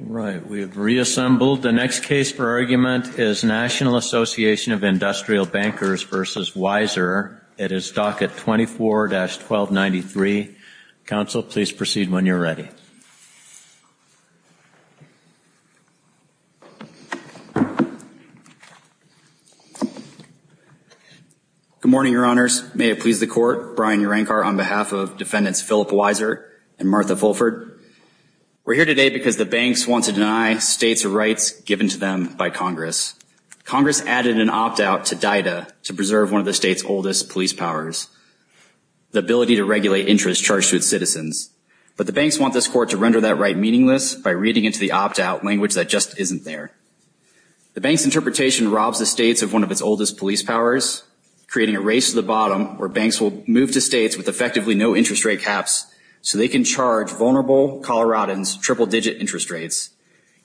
Right. We have reassembled. The next case for argument is National Association of Industrial Bankers v. Weiser. It is docket 24-1293. Counsel, please proceed when you're ready. Good morning, Your Honors. May it please the Court. Brian Urenkar on behalf of Defendant Philip Weiser. I'm here to speak on behalf of the Defendant Philip Weiser and Martha Fulford. We're here today because the banks want to deny states rights given to them by Congress. Congress added an opt-out to DITA to preserve one of the state's oldest police powers, the ability to regulate interest charged to its citizens. But the banks want this Court to render that right meaningless by reading into the opt-out language that just isn't there. The bank's interpretation robs the states of one of its oldest police powers, creating a race to the bottom where banks will move to gaps so they can charge vulnerable Coloradans triple-digit interest rates,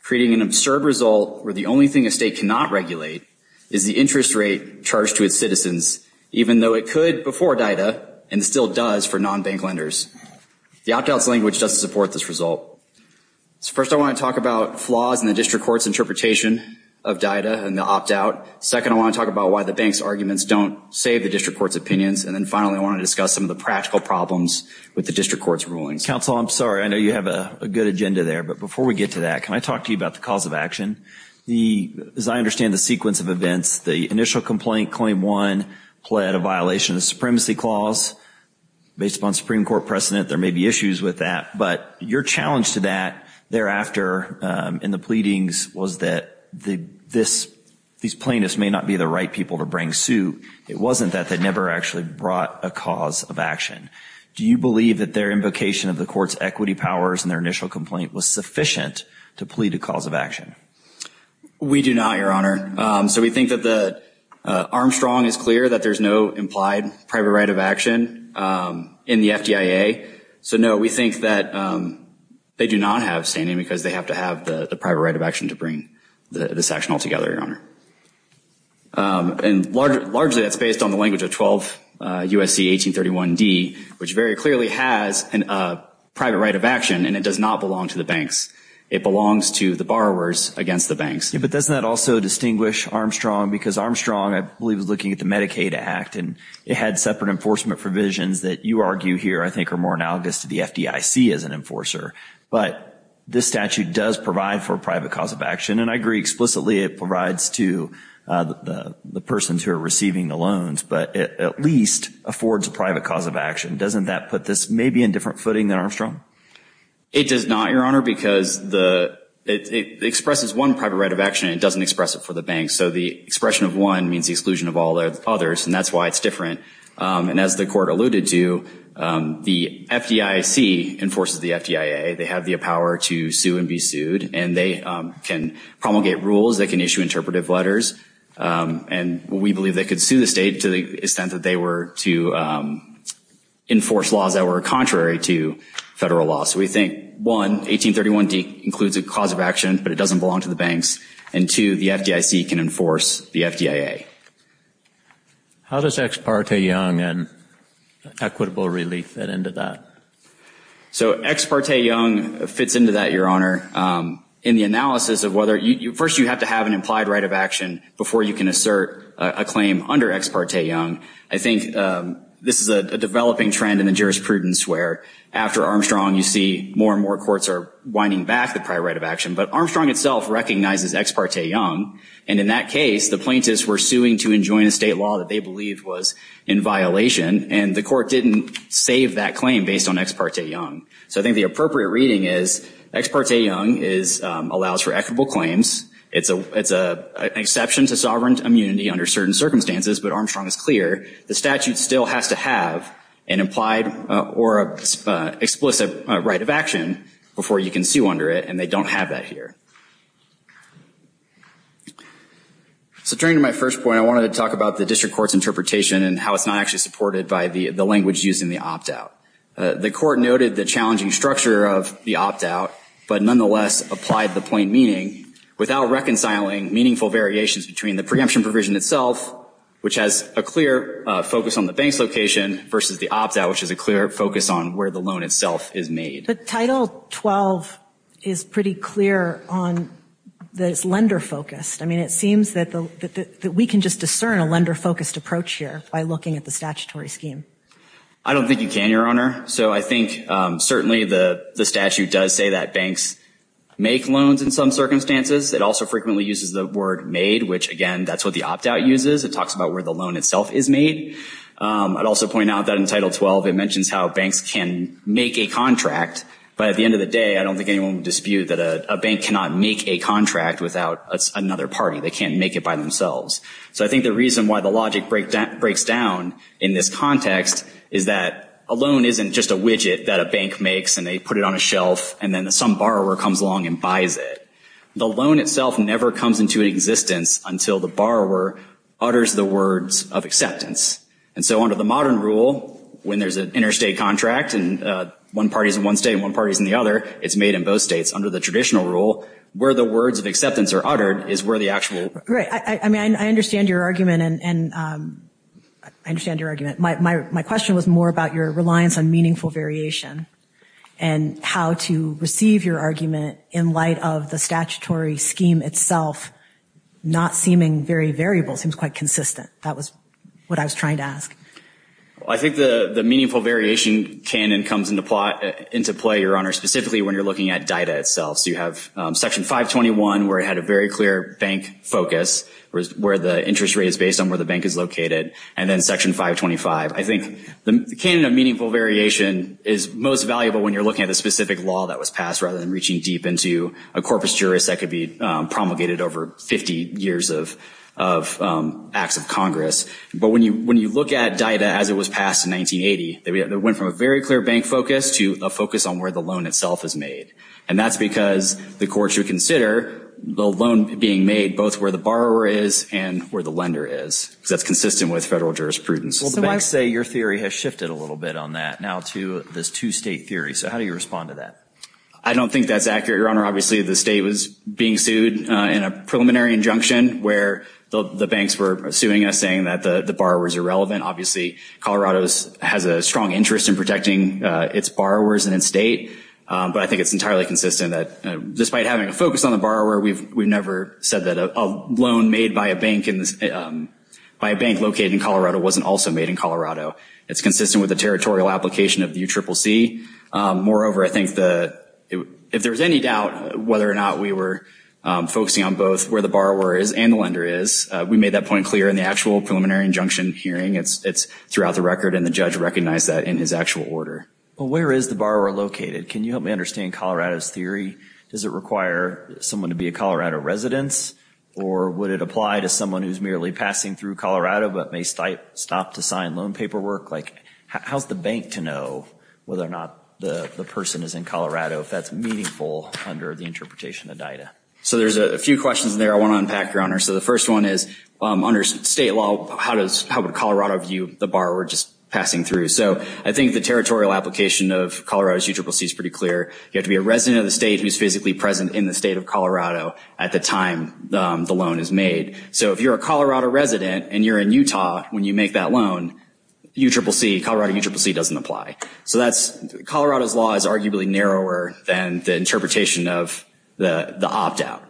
creating an absurd result where the only thing a state cannot regulate is the interest rate charged to its citizens, even though it could before DITA and still does for non-bank lenders. The opt-out's language doesn't support this result. So first, I want to talk about flaws in the district court's interpretation of DITA and the opt-out. Second, I want to talk about why the bank's arguments don't save the district court's opinions. And then finally, I want to discuss some of the practical problems with the district court's rulings. Counsel, I'm sorry. I know you have a good agenda there. But before we get to that, can I talk to you about the cause of action? As I understand the sequence of events, the initial complaint, Claim 1, pled a violation of the Supremacy Clause. Based upon Supreme Court precedent, there may be issues with that. But your challenge to that thereafter in the pleadings was that these plaintiffs may not be the right people to bring suit. It wasn't that. They never actually brought a cause of action. Do you believe that their invocation of the court's equity powers in their initial complaint was sufficient to plead a cause of action? We do not, Your Honor. So we think that Armstrong is clear that there's no implied private right of action in the FDIA. So no, we think that they do not have standing because they have to have the private right of action to bring this action altogether, Your Honor. And largely that's based on the language of 12 U.S.C. 1831d, which very clearly has a private right of action, and it does not belong to the banks. It belongs to the borrowers against the banks. But doesn't that also distinguish Armstrong? Because Armstrong, I believe, was looking at the Medicaid Act, and it had separate enforcement provisions that you argue here I think are more analogous to the FDIC as an enforcer. But this statute does provide for a lot of the persons who are receiving the loans, but it at least affords a private cause of action. Doesn't that put this maybe in different footing than Armstrong? It does not, Your Honor, because it expresses one private right of action. It doesn't express it for the banks. So the expression of one means the exclusion of all the others, and that's why it's different. And as the court alluded to, the FDIC enforces the FDIA. They have the power to sue and be sued, and they can promulgate rules. They can issue interpretive letters. And we believe they could sue the state to the extent that they were to enforce laws that were contrary to federal law. So we think, one, 1831D includes a cause of action, but it doesn't belong to the banks. And, two, the FDIC can enforce the FDIA. How does Ex Parte Young and equitable relief fit into that? So Ex Parte Young fits into that, Your Honor. In the analysis of whether you, first you have to have an implied right of action before you can assert a claim under Ex Parte Young, I think this is a developing trend in the jurisprudence where, after Armstrong, you see more and more courts are winding back the prior right of action. But Armstrong itself recognizes Ex Parte Young, and in that case, the plaintiffs were suing to enjoin a state law that they believed was in violation, and the court didn't save that claim based on Ex Parte Young. So I think the appropriate reading is Ex Parte Young allows for equitable claims. It's an exception to sovereign immunity under certain circumstances, but Armstrong is clear the statute still has to have an implied or an explicit right of action before you can sue under it, and they don't have that here. So turning to my first point, I wanted to talk about the district court's interpretation and how it's not actually supported by the language used in the opt-out. The court noted the challenging structure of the opt-out, but nonetheless applied the plain meaning without reconciling meaningful variations between the preemption provision itself, which has a clear focus on the bank's location, versus the opt-out, which has a clear focus on where the loan itself is made. But Title 12 is pretty clear on that it's lender-focused. I mean, it seems that we can just discern a lender-focused approach here by looking at the statutory scheme. I don't think you can, Your Honor. So I think certainly the statute does say that banks make loans in some circumstances. It also frequently uses the word made, which, again, that's what the opt-out uses. It talks about where the loan itself is made. I'd also point out that in Title 12 it mentions how banks can make a contract, but at the end of the day, I don't think anyone would dispute that a bank cannot make a contract without another party. They can't make it by themselves. So I think the reason why the logic breaks down in this context is that a loan isn't just a widget that a bank makes, and they put it on a shelf, and then some borrower comes along and buys it. The loan itself never comes into existence until the borrower utters the words of acceptance. And so under the modern rule, when there's an interstate contract and one party's in one state and one party's in the other, it's made in both states. Under the traditional rule, where the words of acceptance are uttered is where the I understand your argument. My question was more about your reliance on meaningful variation and how to receive your argument in light of the statutory scheme itself not seeming very variable. It seems quite consistent. That was what I was trying to ask. I think the meaningful variation canon comes into play, Your Honor, specifically when you're looking at data itself. So you have the interest rates based on where the bank is located, and then Section 525. I think the canon of meaningful variation is most valuable when you're looking at a specific law that was passed rather than reaching deep into a corpus juris that could be promulgated over 50 years of acts of Congress. But when you look at data as it was passed in 1980, it went from a very clear bank focus to a focus on where the loan itself is made. And that's because the court should consider the loan being made both where the borrower is and where the lender is, because that's consistent with federal jurisprudence. Well, the banks say your theory has shifted a little bit on that now to this two-state theory. So how do you respond to that? I don't think that's accurate, Your Honor. Obviously, the state was being sued in a preliminary injunction where the banks were suing us saying that the borrower is irrelevant. Obviously, Colorado has a strong interest in protecting its borrowers and its state. But I think it's entirely consistent that despite having a focus on the borrower, we've never said that a loan made by a bank in the state, by a bank located in Colorado, wasn't also made in Colorado. It's consistent with the territorial application of the UCCC. Moreover, I think if there's any doubt whether or not we were focusing on both where the borrower is and the lender is, we made that point clear in the actual preliminary injunction hearing. It's throughout the record and the judge recognized that in his actual order. Well, where is the borrower located? Can you help me understand Colorado's theory? Does it require someone to be a Colorado resident or would it apply to someone who's merely passing through Colorado but may stop to sign loan paperwork? How's the bank to know whether or not the person is in Colorado if that's meaningful under the interpretation of DITA? So there's a few questions there I want to unpack, Your Honor. So the first one is under state law, how would Colorado view the borrower just passing through? So I think the territorial application of Colorado's UCCC is pretty clear. You have to be a resident of the state who's physically present in the state of Colorado at the time the loan is made. So if you're a Colorado resident and you're in Utah when you make that loan, Colorado UCCC doesn't apply. So Colorado's law is arguably narrower than the interpretation of the opt-out.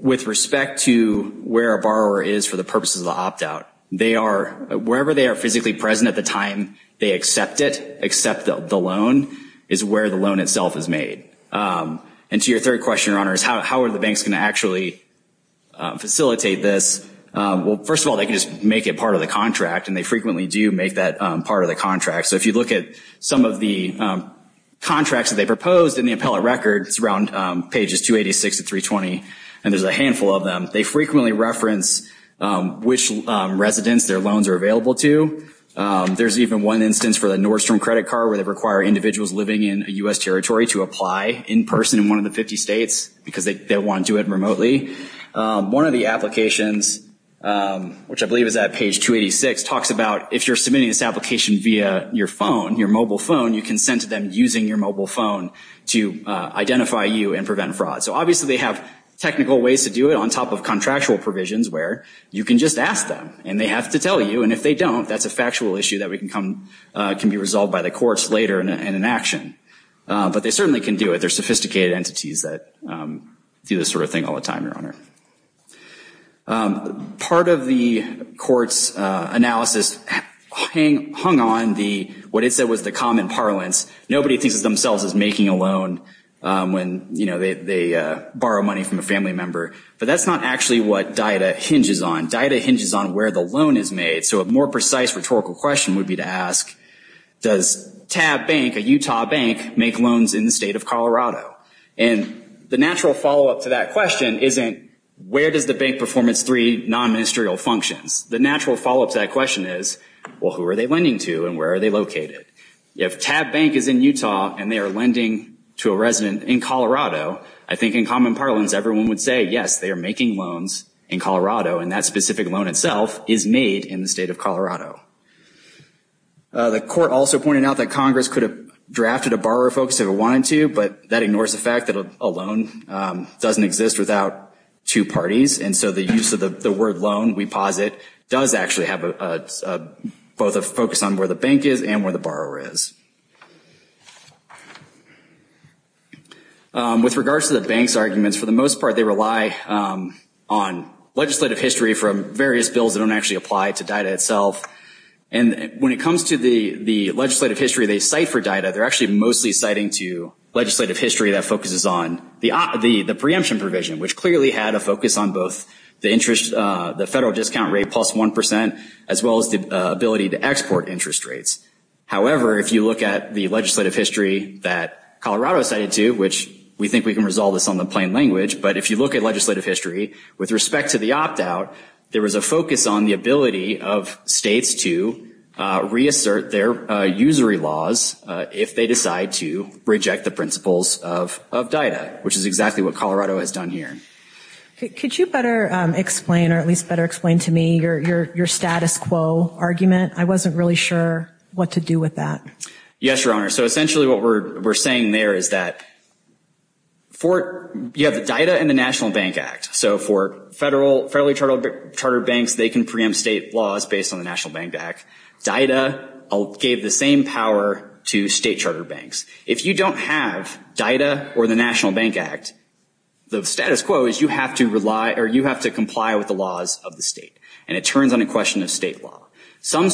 With respect to where a borrower is for the purposes of the opt-out, wherever they are physically present at the time they accept it, accept the loan, is where the loan itself is made. And to your third question, Your Honor, is how are the banks going to actually facilitate this? Well, first of all, they can just make it part of the contract, and they frequently do make that part of the contract. So if you look at some of the contracts that they proposed in the appellate record, it's around pages 286 to 320, and there's a handful of them. They frequently reference which residents their loans are from. There's even one instance for the Nordstrom credit card where they require individuals living in U.S. territory to apply in person in one of the 50 states because they want to do it remotely. One of the applications, which I believe is at page 286, talks about if you're submitting this application via your phone, your mobile phone, you can send to them using your mobile phone to identify you and prevent fraud. So obviously they have technical ways to do it on top of contractual provisions where you can just ask them, and they have to tell you. And if they don't, that's a factual issue that can be resolved by the courts later in an action. But they certainly can do it. There's sophisticated entities that do this sort of thing all the time, Your Honor. Part of the court's analysis hung on what it said was the common parlance. Nobody thinks of themselves as making a loan when, you know, they borrow money from a family member. But that's not actually what DITA hinges on. DITA hinges on where the loan is made. So a more precise rhetorical question would be to ask, does TAB Bank, a Utah bank, make loans in the state of Colorado? And the natural follow-up to that question isn't, where does the bank perform its three non-ministerial functions? The natural follow-up to that question is, well, who are they lending to and where are they located? If TAB Bank is in Utah and they are lending to a resident in Colorado, I think in common parlance everyone would say, yes, they are making loans in Colorado. And that specific loan itself is made in the state of Colorado. The court also pointed out that Congress could have drafted a borrower focus if it wanted to, but that ignores the fact that a loan doesn't exist without two parties. And so the use of the word loan, we posit, does actually have both a focus on where the bank is and where the borrower is. With regards to the bank's arguments, for the most part they rely on legislative history from various bills that don't actually apply to DITA itself. And when it comes to the legislative history they cite for DITA, they are actually mostly citing to legislative history that focuses on the preemption provision, which clearly had a focus on both the interest, the federal discount rate plus 1 percent, as well as the ability to export interest rates. However, if you look at the legislative history that Colorado cited to, which we think we can resolve this on the plain language, but if you look at legislative history, with respect to the opt-out, there was a focus on the ability of states to reassert their usury laws if they decide to reject the principles of DITA, which is exactly what Colorado has done here. Could you better explain, or at least better explain to me your status quo argument? I wasn't really sure. Yes, Your Honor. So essentially what we're saying there is that you have the DITA and the National Bank Act. So for federally chartered banks they can preempt state laws based on the National Bank Act. DITA gave the same power to state charter banks. If you don't have DITA or the National Bank Act, the status quo is you have to comply with the laws of the state. So the banks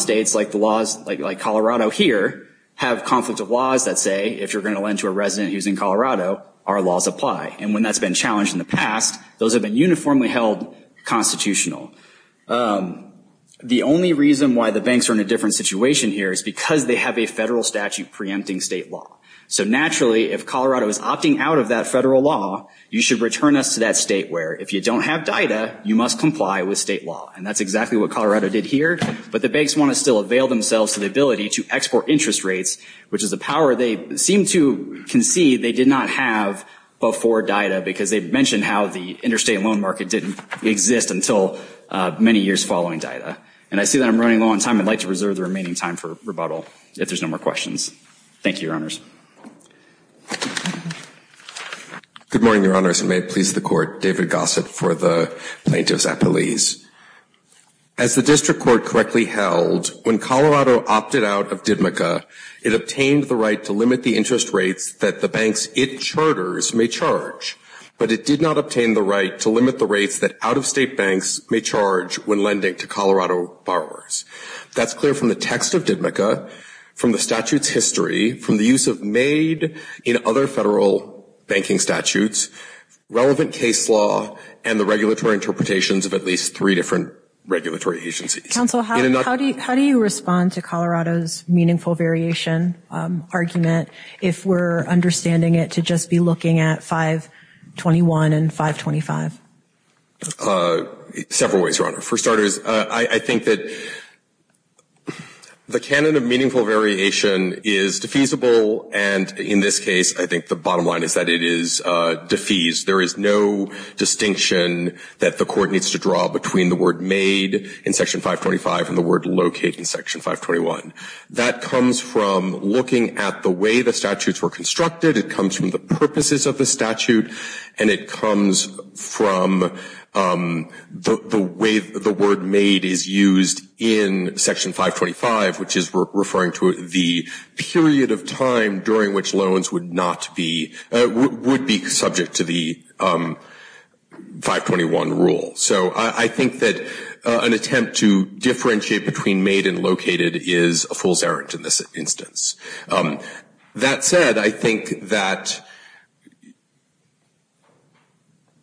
in Colorado here have conflict of laws that say if you're going to lend to a resident who's in Colorado, our laws apply. And when that's been challenged in the past, those have been uniformly held constitutional. The only reason why the banks are in a different situation here is because they have a federal statute preempting state law. So naturally, if Colorado is opting out of that federal law, you should return us to that state where if you don't have DITA, you must comply with state law. And that's exactly what Colorado did here. But the banks want to still avail themselves to the ability to export interest rates, which is a power they seem to concede they did not have before DITA because they mentioned how the interstate loan market didn't exist until many years following DITA. And I see that I'm running low on time. I'd like to reserve the remaining time for rebuttal if there's no more questions. Thank you, Your Good morning, Your Honors. And may it please the Court, David Gossett for the Plaintiffs at Police. As the District Court correctly held, when Colorado opted out of DITMCA, it obtained the right to limit the interest rates that the banks it charters may charge. But it did not obtain the right to limit the rates that out-of-state banks may charge when lending to Colorado borrowers. That's clear from the text of DITMCA, from the statute's history, from the use of made in other federal banking statutes, relevant case law, and the regulatory interpretations of at least three different regulatory agencies. Counsel, how do you respond to Colorado's meaningful variation argument if we're understanding it to just be looking at 521 and 525? Several ways, Your Honor. For starters, I think that the canon of meaningful variation is defeasible. And in this case, I think the bottom line is that it is defeased. There is no distinction that the Court needs to draw between the word made in Section 525 and the word locate in Section 521. That comes from looking at the way the statutes were constructed. It comes from the purposes of the statute. And it comes from the way the word made is used in Section 525, which is referring to the period of time during which loans would not be, would be subject to the 521 rule. So I think that an attempt to differentiate between made and located is a fool's errand in this instance. That said, I think that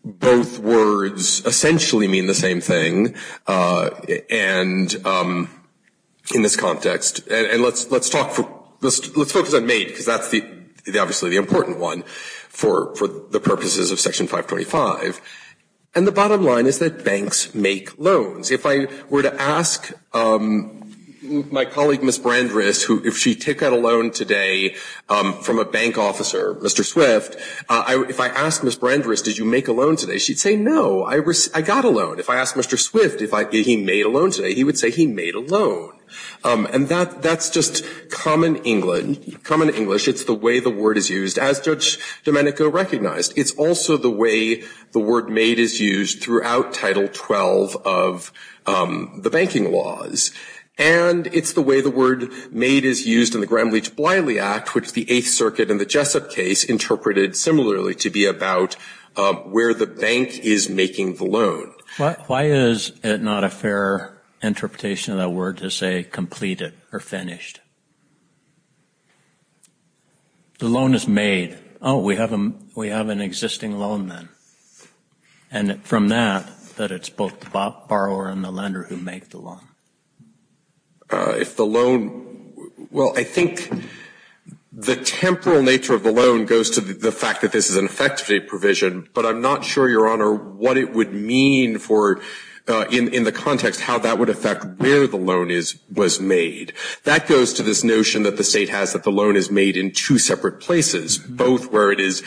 both words essentially mean the same thing, and in this context. And let's talk, let's focus on made, because that's obviously the important one for the purposes of Section 525. And the bottom line is that banks make loans. If I were to ask my colleague, Ms. Brandris, if she took out a loan today from a bank officer, Mr. Swift, if I asked Ms. Brandris, did you make a loan today, she would say, no, I got a loan. If I asked Mr. Swift, did he make a loan today, he would say he made a loan. And that's just common English. It's the way the word is used, as Judge Domenico recognized. It's also the way the word made is used throughout Title 12 of the banking laws. And it's the way the word made is used in the Gramm-Leach-Bliley Act, which the Eighth Circuit in the Jessup case interpreted similarly to be about where the bank is making the loan. Why is it not a fair interpretation of that word to say completed or finished? The loan is made. Oh, we have an existing loan then. And from that, that it's both the borrower and the lender who make the loan. If the loan – well, I think the temporal nature of the loan goes to the fact that this is an effectivity provision, but I'm not sure, Your Honor, what it would mean for – in the context how that would affect where the loan is – was made. That goes to this notion that the state has that the loan is made in two separate places, both where it is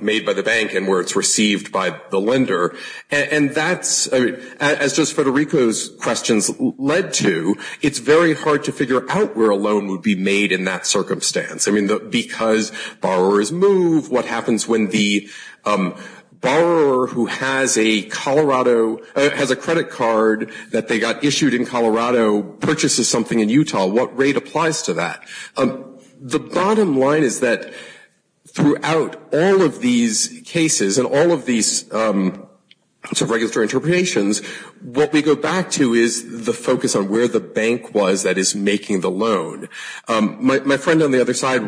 made by the bank and where it's received by the lender. And that's – as Judge Federico's questions led to, it's very hard to figure out where a loan would be made in that circumstance. I mean, because borrowers move, what happens when the borrower who has a Colorado – purchases something in Utah, what rate applies to that? The bottom line is that throughout all of these cases and all of these sort of regulatory interpretations, what we go back to is the focus on where the bank was that is making the loan. My friend on the other side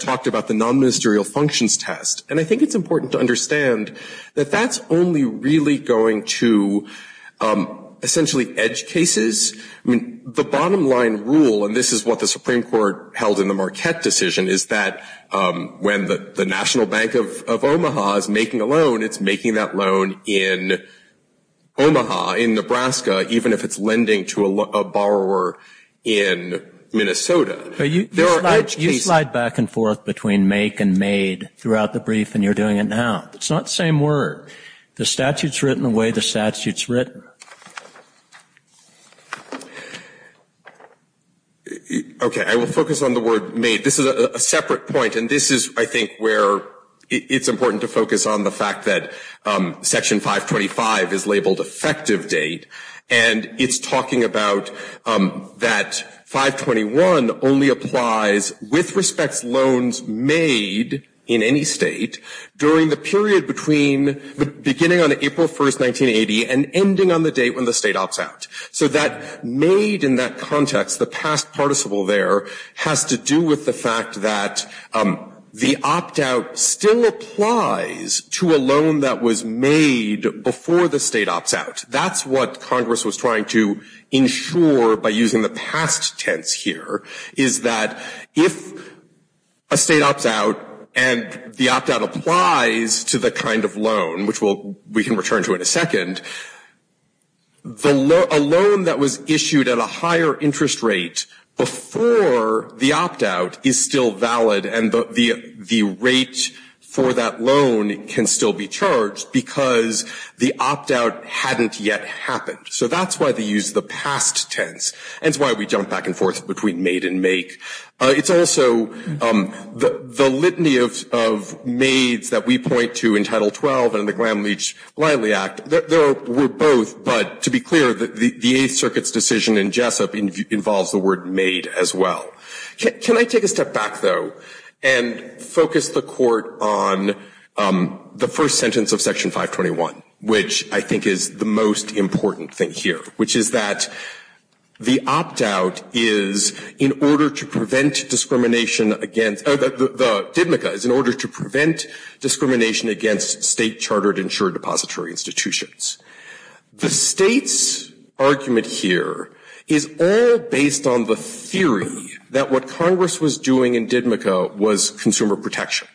talked about the non-ministerial functions test. And I think it's important to understand that that's only really going to essentially edge cases. I mean, the bottom line rule, and this is what the Supreme Court held in the Marquette decision, is that when the National Bank of Omaha is making a loan, it's making that loan in Omaha, in Nebraska, even if it's lending to a borrower in Minnesota. You slide back and forth between make and made throughout the brief, and you're doing it now. It's not the same word. The statute's written the way the statute's written. Okay, I will focus on the word made. This is a separate point, and this is, I think, where it's important to focus on the fact that Section 525 is labeled effective date, and it's talking about that 521 only applies with respect to loans made in any state during the period between the beginning on April 1, 1980 and ending on the date when the state opts out. So that made in that context, the past participle there, has to do with the fact that the opt-out still applies to a loan that was made before the state opts out. That's what Congress was trying to ensure by using the past tense here, is that if a state opts out and the opt-out applies to the kind of loan, which we can return to in a second, a loan that was made before the state opts out and a loan that was issued at a higher interest rate before the opt-out is still valid, and the rate for that loan can still be charged because the opt-out hadn't yet happened. So that's why they use the past tense, and it's why we jump back and forth between made and make. It's also the litany of maids that we point to in Title 12 and the Glam Leach Lively Act. There were both, but to be clear, the Eighth Circuit's decision in Jessup involves the word made as well. Can I take a step back, though, and focus the Court on the first sentence of Section 521, which I think is the most important thing here, which is that the opt-out is in order to prevent discrimination against the state chartered insured depository institutions. The state's argument here is all based on the theory that what Congress was doing in Didmico was consumer protection.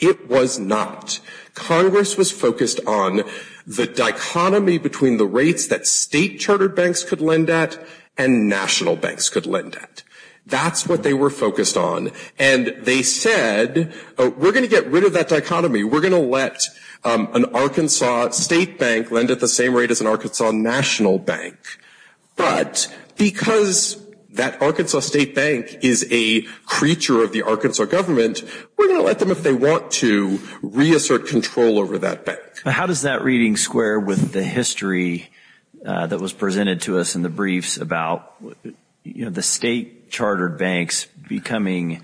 It was not. Congress was focused on the dichotomy between the rates that state chartered banks could lend at and national banks could lend at. That's what they were focused on, and they said, we're going to get rid of that dichotomy. We're going to let an Arkansas state bank lend at the same rate as an Arkansas national bank. But because that Arkansas state bank is a creature of the Arkansas government, we're going to let them, if they want to, reassert control over that bank. How does that reading square with the history that was presented to us in the briefs about the state chartered banks becoming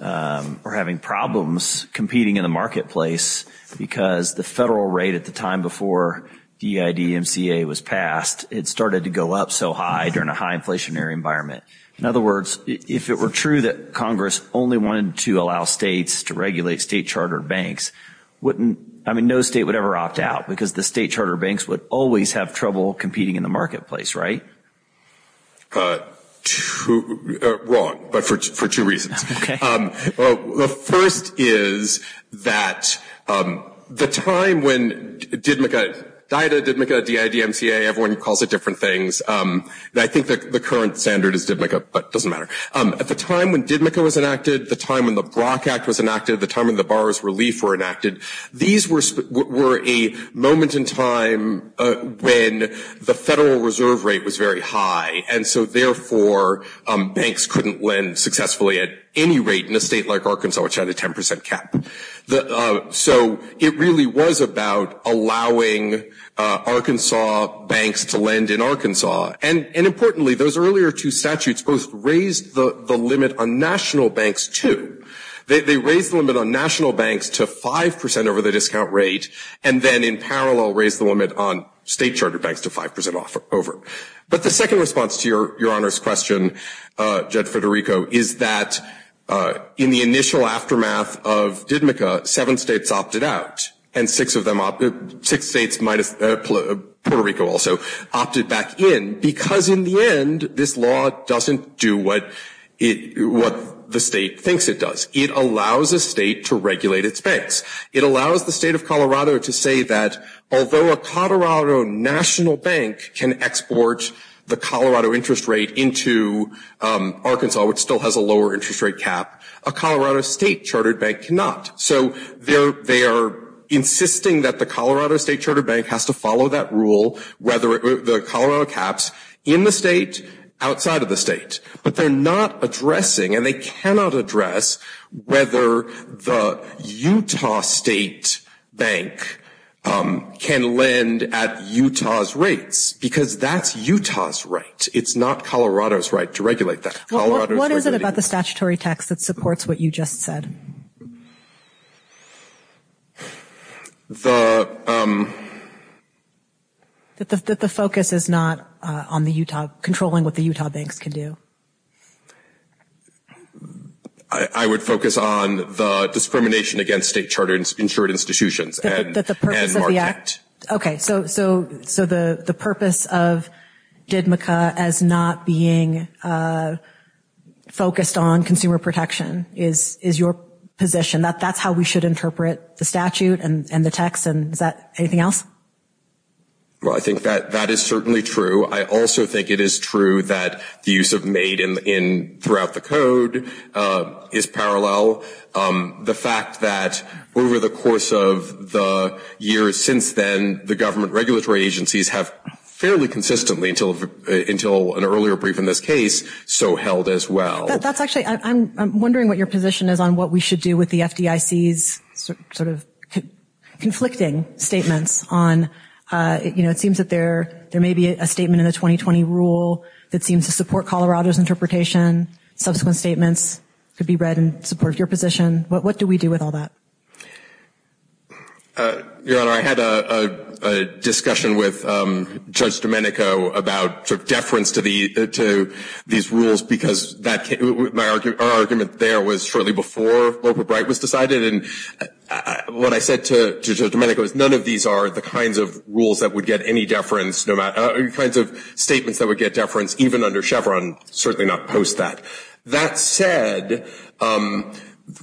or having problems competing in the marketplace because the federal rate at the time before DIDMCA was passed, it started to go up so high during a high inflationary environment? In other words, if it were true that Congress only wanted to allow states to regulate state chartered banks, no state would ever opt out because the state chartered banks would always have trouble competing in the marketplace, right? Wrong, but for two reasons. The first is that the time when DIDMCA, D-I-D-M-C-A, everyone calls it different things. I think the current standard is DIDMCA, but it doesn't matter. At the time when DIDMCA was enacted, the time when the Brock Act was enacted, the time when the borrower's relief was enacted, these were a moment in time when the federal reserve rate was very high, and so therefore banks couldn't lend successfully at any rate in a state like Arkansas, which had a 10 percent cap. So it really was about allowing Arkansas banks to lend in Arkansas. And importantly, those earlier two statutes both raised the limit on national banks, too. They raised the limit on national banks to 5 percent over the discount rate, and then in parallel raised the limit on state chartered banks to 5 percent over. But the second response to Your Honor's question, Judge Federico, is that in the initial aftermath of DIDMCA, seven states opted out, and six states minus Puerto Rico also opted back in, because in the end, this law doesn't do what the state thinks it does. It allows a state to regulate its banks. It allows the state of Colorado to say that although a Colorado national bank can export the Colorado interest rate into Arkansas, which still has a lower interest rate cap, a Colorado state chartered bank cannot. So they are insisting that the Colorado state chartered bank has to follow that rule, the Colorado caps, in the state, outside of the state. But they're not addressing, and they cannot address, whether the Utah state bank can lend at Utah's rates, because that's Utah's right. It's not Colorado's right to regulate that. What is it about the statutory text that supports what you just said? That the focus is not on the Utah, controlling what the Utah banks can do. I would focus on the discrimination against state chartered insured institutions. That the purpose of the act. Okay. So the purpose of DIDMCA as not being focused on consumer protection is your position. That's how we should interpret the statute and the text. Is that anything else? Well, I think that is certainly true. I also think it is true that the use of made throughout the code is parallel. The fact that over the course of the years since then, the government regulatory agencies have fairly consistently, until an earlier brief in this case, so held as well. I'm wondering what your position is on what we should do with the FDIC's conflicting statements. It seems that there may be a statement in the 2020 rule that seems to support Colorado's interpretation. Subsequent statements could be read in support of your position. What do we do with all that? Your Honor, I had a discussion with Judge Domenico about deference to these rules, because our argument there was shortly before Loper-Bright was decided. And what I said to Judge Domenico is none of these are the kinds of rules that would get any deference, kinds of statements that would get deference, even under Chevron, certainly not post that. That said,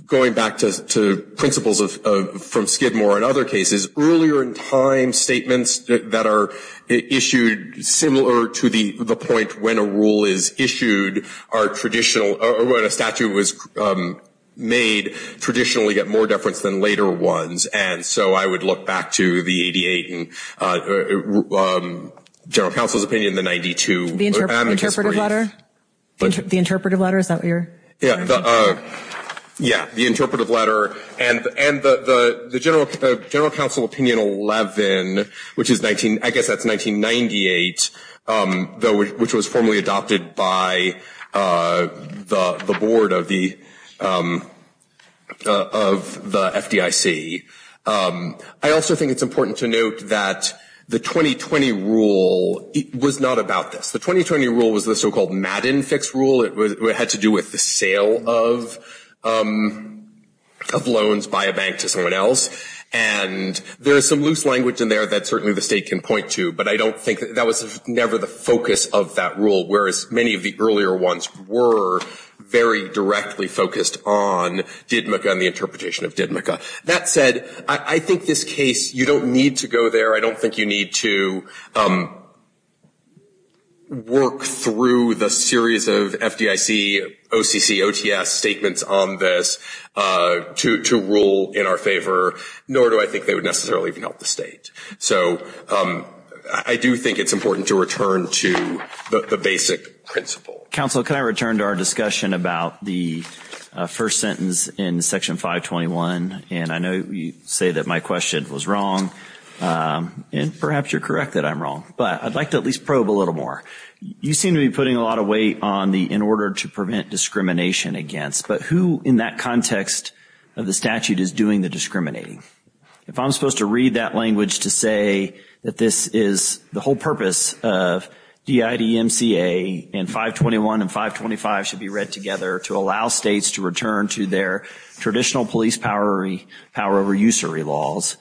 going back to principles from Skidmore and other cases, earlier in time statements that are issued similar to the point when a rule is issued are traditional, or when a statute was made, traditionally get more deference than later ones. And so I would look back to the 88 in General Counsel's opinion, the 92. The interpretive letter? Yeah, the interpretive letter. And the General Counsel Opinion 11, which is, I guess that's 1998, which was formally adopted by the board of the FDIC, I also think it's important to note that the 2020 rule was not about this. The 2020 rule was the so-called Madden Fix Rule. It had to do with the sale of loans by a bank to someone else. And there is some loose language in there that certainly the State can point to, but I don't think that was never the focus of that rule, whereas many of the earlier ones were very directly focused on DIDMCA and the interpretation of DIDMCA. That said, I think this case, you don't need to go there. I don't think you need to work through the series of FDIC, OCC, OTS statements on this to rule in our favor, nor do I think they would necessarily even help the State. So I do think it's important to return to the basic principle. Counsel, can I return to our discussion about the first sentence in Section 521? And I know you say that my question was wrong, and perhaps you're correct that I'm wrong, but I'd like to at least probe a little more. You seem to be putting a lot of weight on the in order to prevent discrimination against, but who in that context of the statute is doing the discriminating? If I'm supposed to read that language to say that this is the whole purpose of DIDMCA, and 521 and 525 should be read together to allow states to return to their traditional police power, power over usury laws,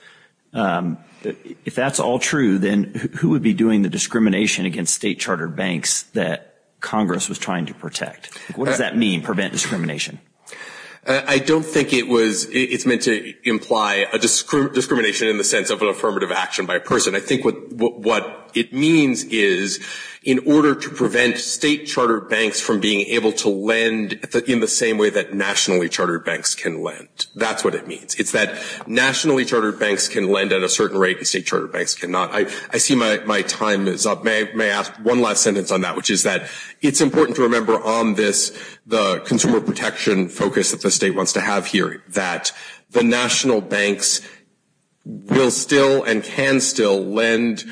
if that's all true, then who would be doing the discrimination against State chartered banks that Congress was trying to protect? What does that mean, prevent discrimination? I don't think it's meant to imply a discrimination in the sense of an affirmative action by a person. I think what it means is in order to prevent State chartered banks from being able to lend in the same way that nationally chartered banks can lend. That's what it means. It's that nationally chartered banks can lend at a certain rate and State chartered banks cannot. I see my time is up. May I ask one last sentence on that, which is that it's important to remember on this, the consumer protection focus that the State wants to have here, that the national banks will still and can still lend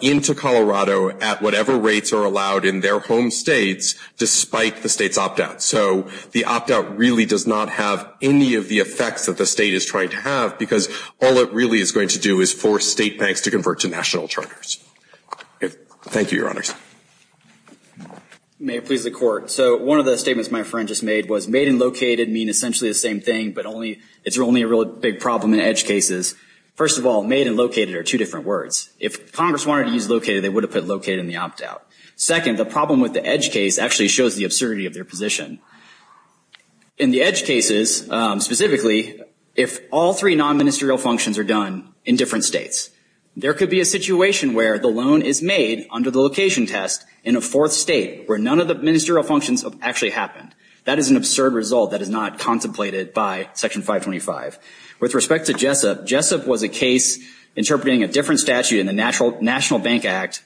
into Colorado at whatever rates are allowed in their home states, despite the State's opt-out. So the opt-out really does not have any of the effects that the State is trying to have, because all it really is going to do is force State banks to convert to national charters. Thank you, Your Honors. May it please the Court. So one of the statements my friend just made was made and located mean essentially the same thing, but it's only a real big problem in edge cases. First of all, made and located are two different words. If Congress wanted to use located, they would have put located in the opt-out. Second, the problem with the edge case actually shows the absurdity of their position. In the edge cases, specifically, if all three non-ministerial functions are done in different states, there could be a situation where the loan is made under the location test in a fourth state where none of the ministerial functions have actually happened. That is an absurd result that is not contemplated by Section 525. With respect to JSEP, JSEP was a case interpreting a different statute in the National Bank Act,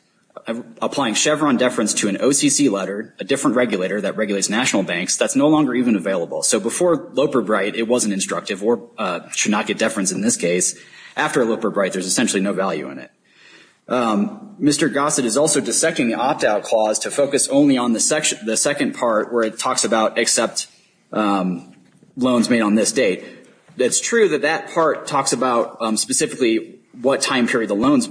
applying Chevron deference to an OCC letter, a different regulator that regulates national banks that's no longer even available. So before Loper-Bright, it wasn't instructive or should not get deference in this case. After Loper-Bright, there's essentially no value in it. Mr. Gossett is also dissecting the opt-out clause to focus only on the second part where it talks about except loans made on this date. It's true that that part talks about specifically what time period of loans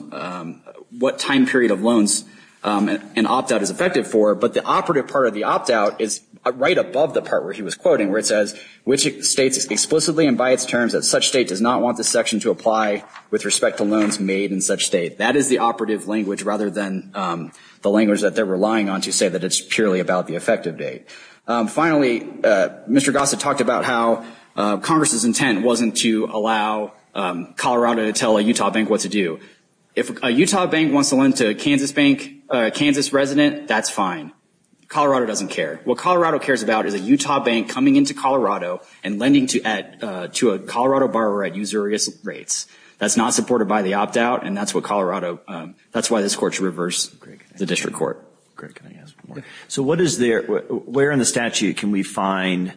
an opt-out is effective for, but the operative part of the opt-out is right above the part where he was quoting where it says which states explicitly and by its terms that such state does not want this section to apply with respect to loans made in such state. That is the operative language rather than the language that they're relying on to say that it's purely about the effective date. Finally, Mr. Gossett talked about how Congress's intent wasn't to allow Colorado to tell a Utah bank what to do. If a Utah bank wants to lend to a Kansas bank, a Kansas resident, that's fine. Colorado doesn't care. What Colorado cares about is a Utah bank coming into Colorado and lending to a Colorado borrower at usurious rates. That's not supported by the opt-out, and that's why this Court should reverse the district court. So where in the statute can we find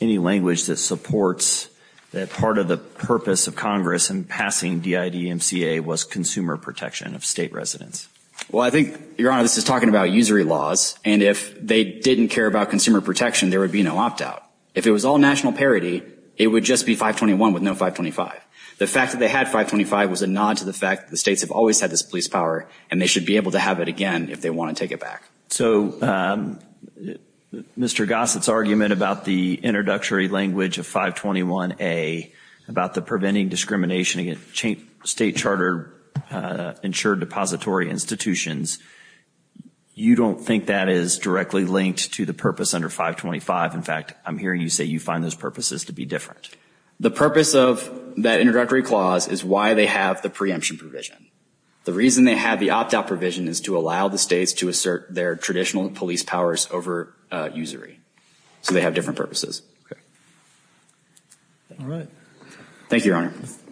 any language that supports that part of the purpose of Congress in passing DIDMCA was consumer protection of state residents? Well, I think, Your Honor, this is talking about usury laws, and if they didn't care about consumer protection, there would be no opt-out. If it was all national parity, it would just be 521 with no 525. The fact that they had 525 was a nod to the fact that the states have always had this police power, and they should be able to have it again if they want to take it back. So Mr. Gossett's argument about the introductory language of 521A, about the preventing discrimination against state charter insured depository institutions, you don't think that is directly linked to the purpose under 525? In fact, I'm hearing you say you find those purposes to be different. The purpose of that introductory clause is why they have the preemption provision. The reason they have the opt-out provision is to allow the states to assert their traditional police powers over usury. So they have different purposes. Thank you, Your Honor.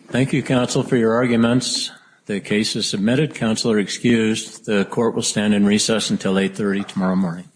Thank you, counsel, for your arguments. The case is submitted. Counsel are excused. The court will stand in recess until 830 tomorrow morning. Thank you.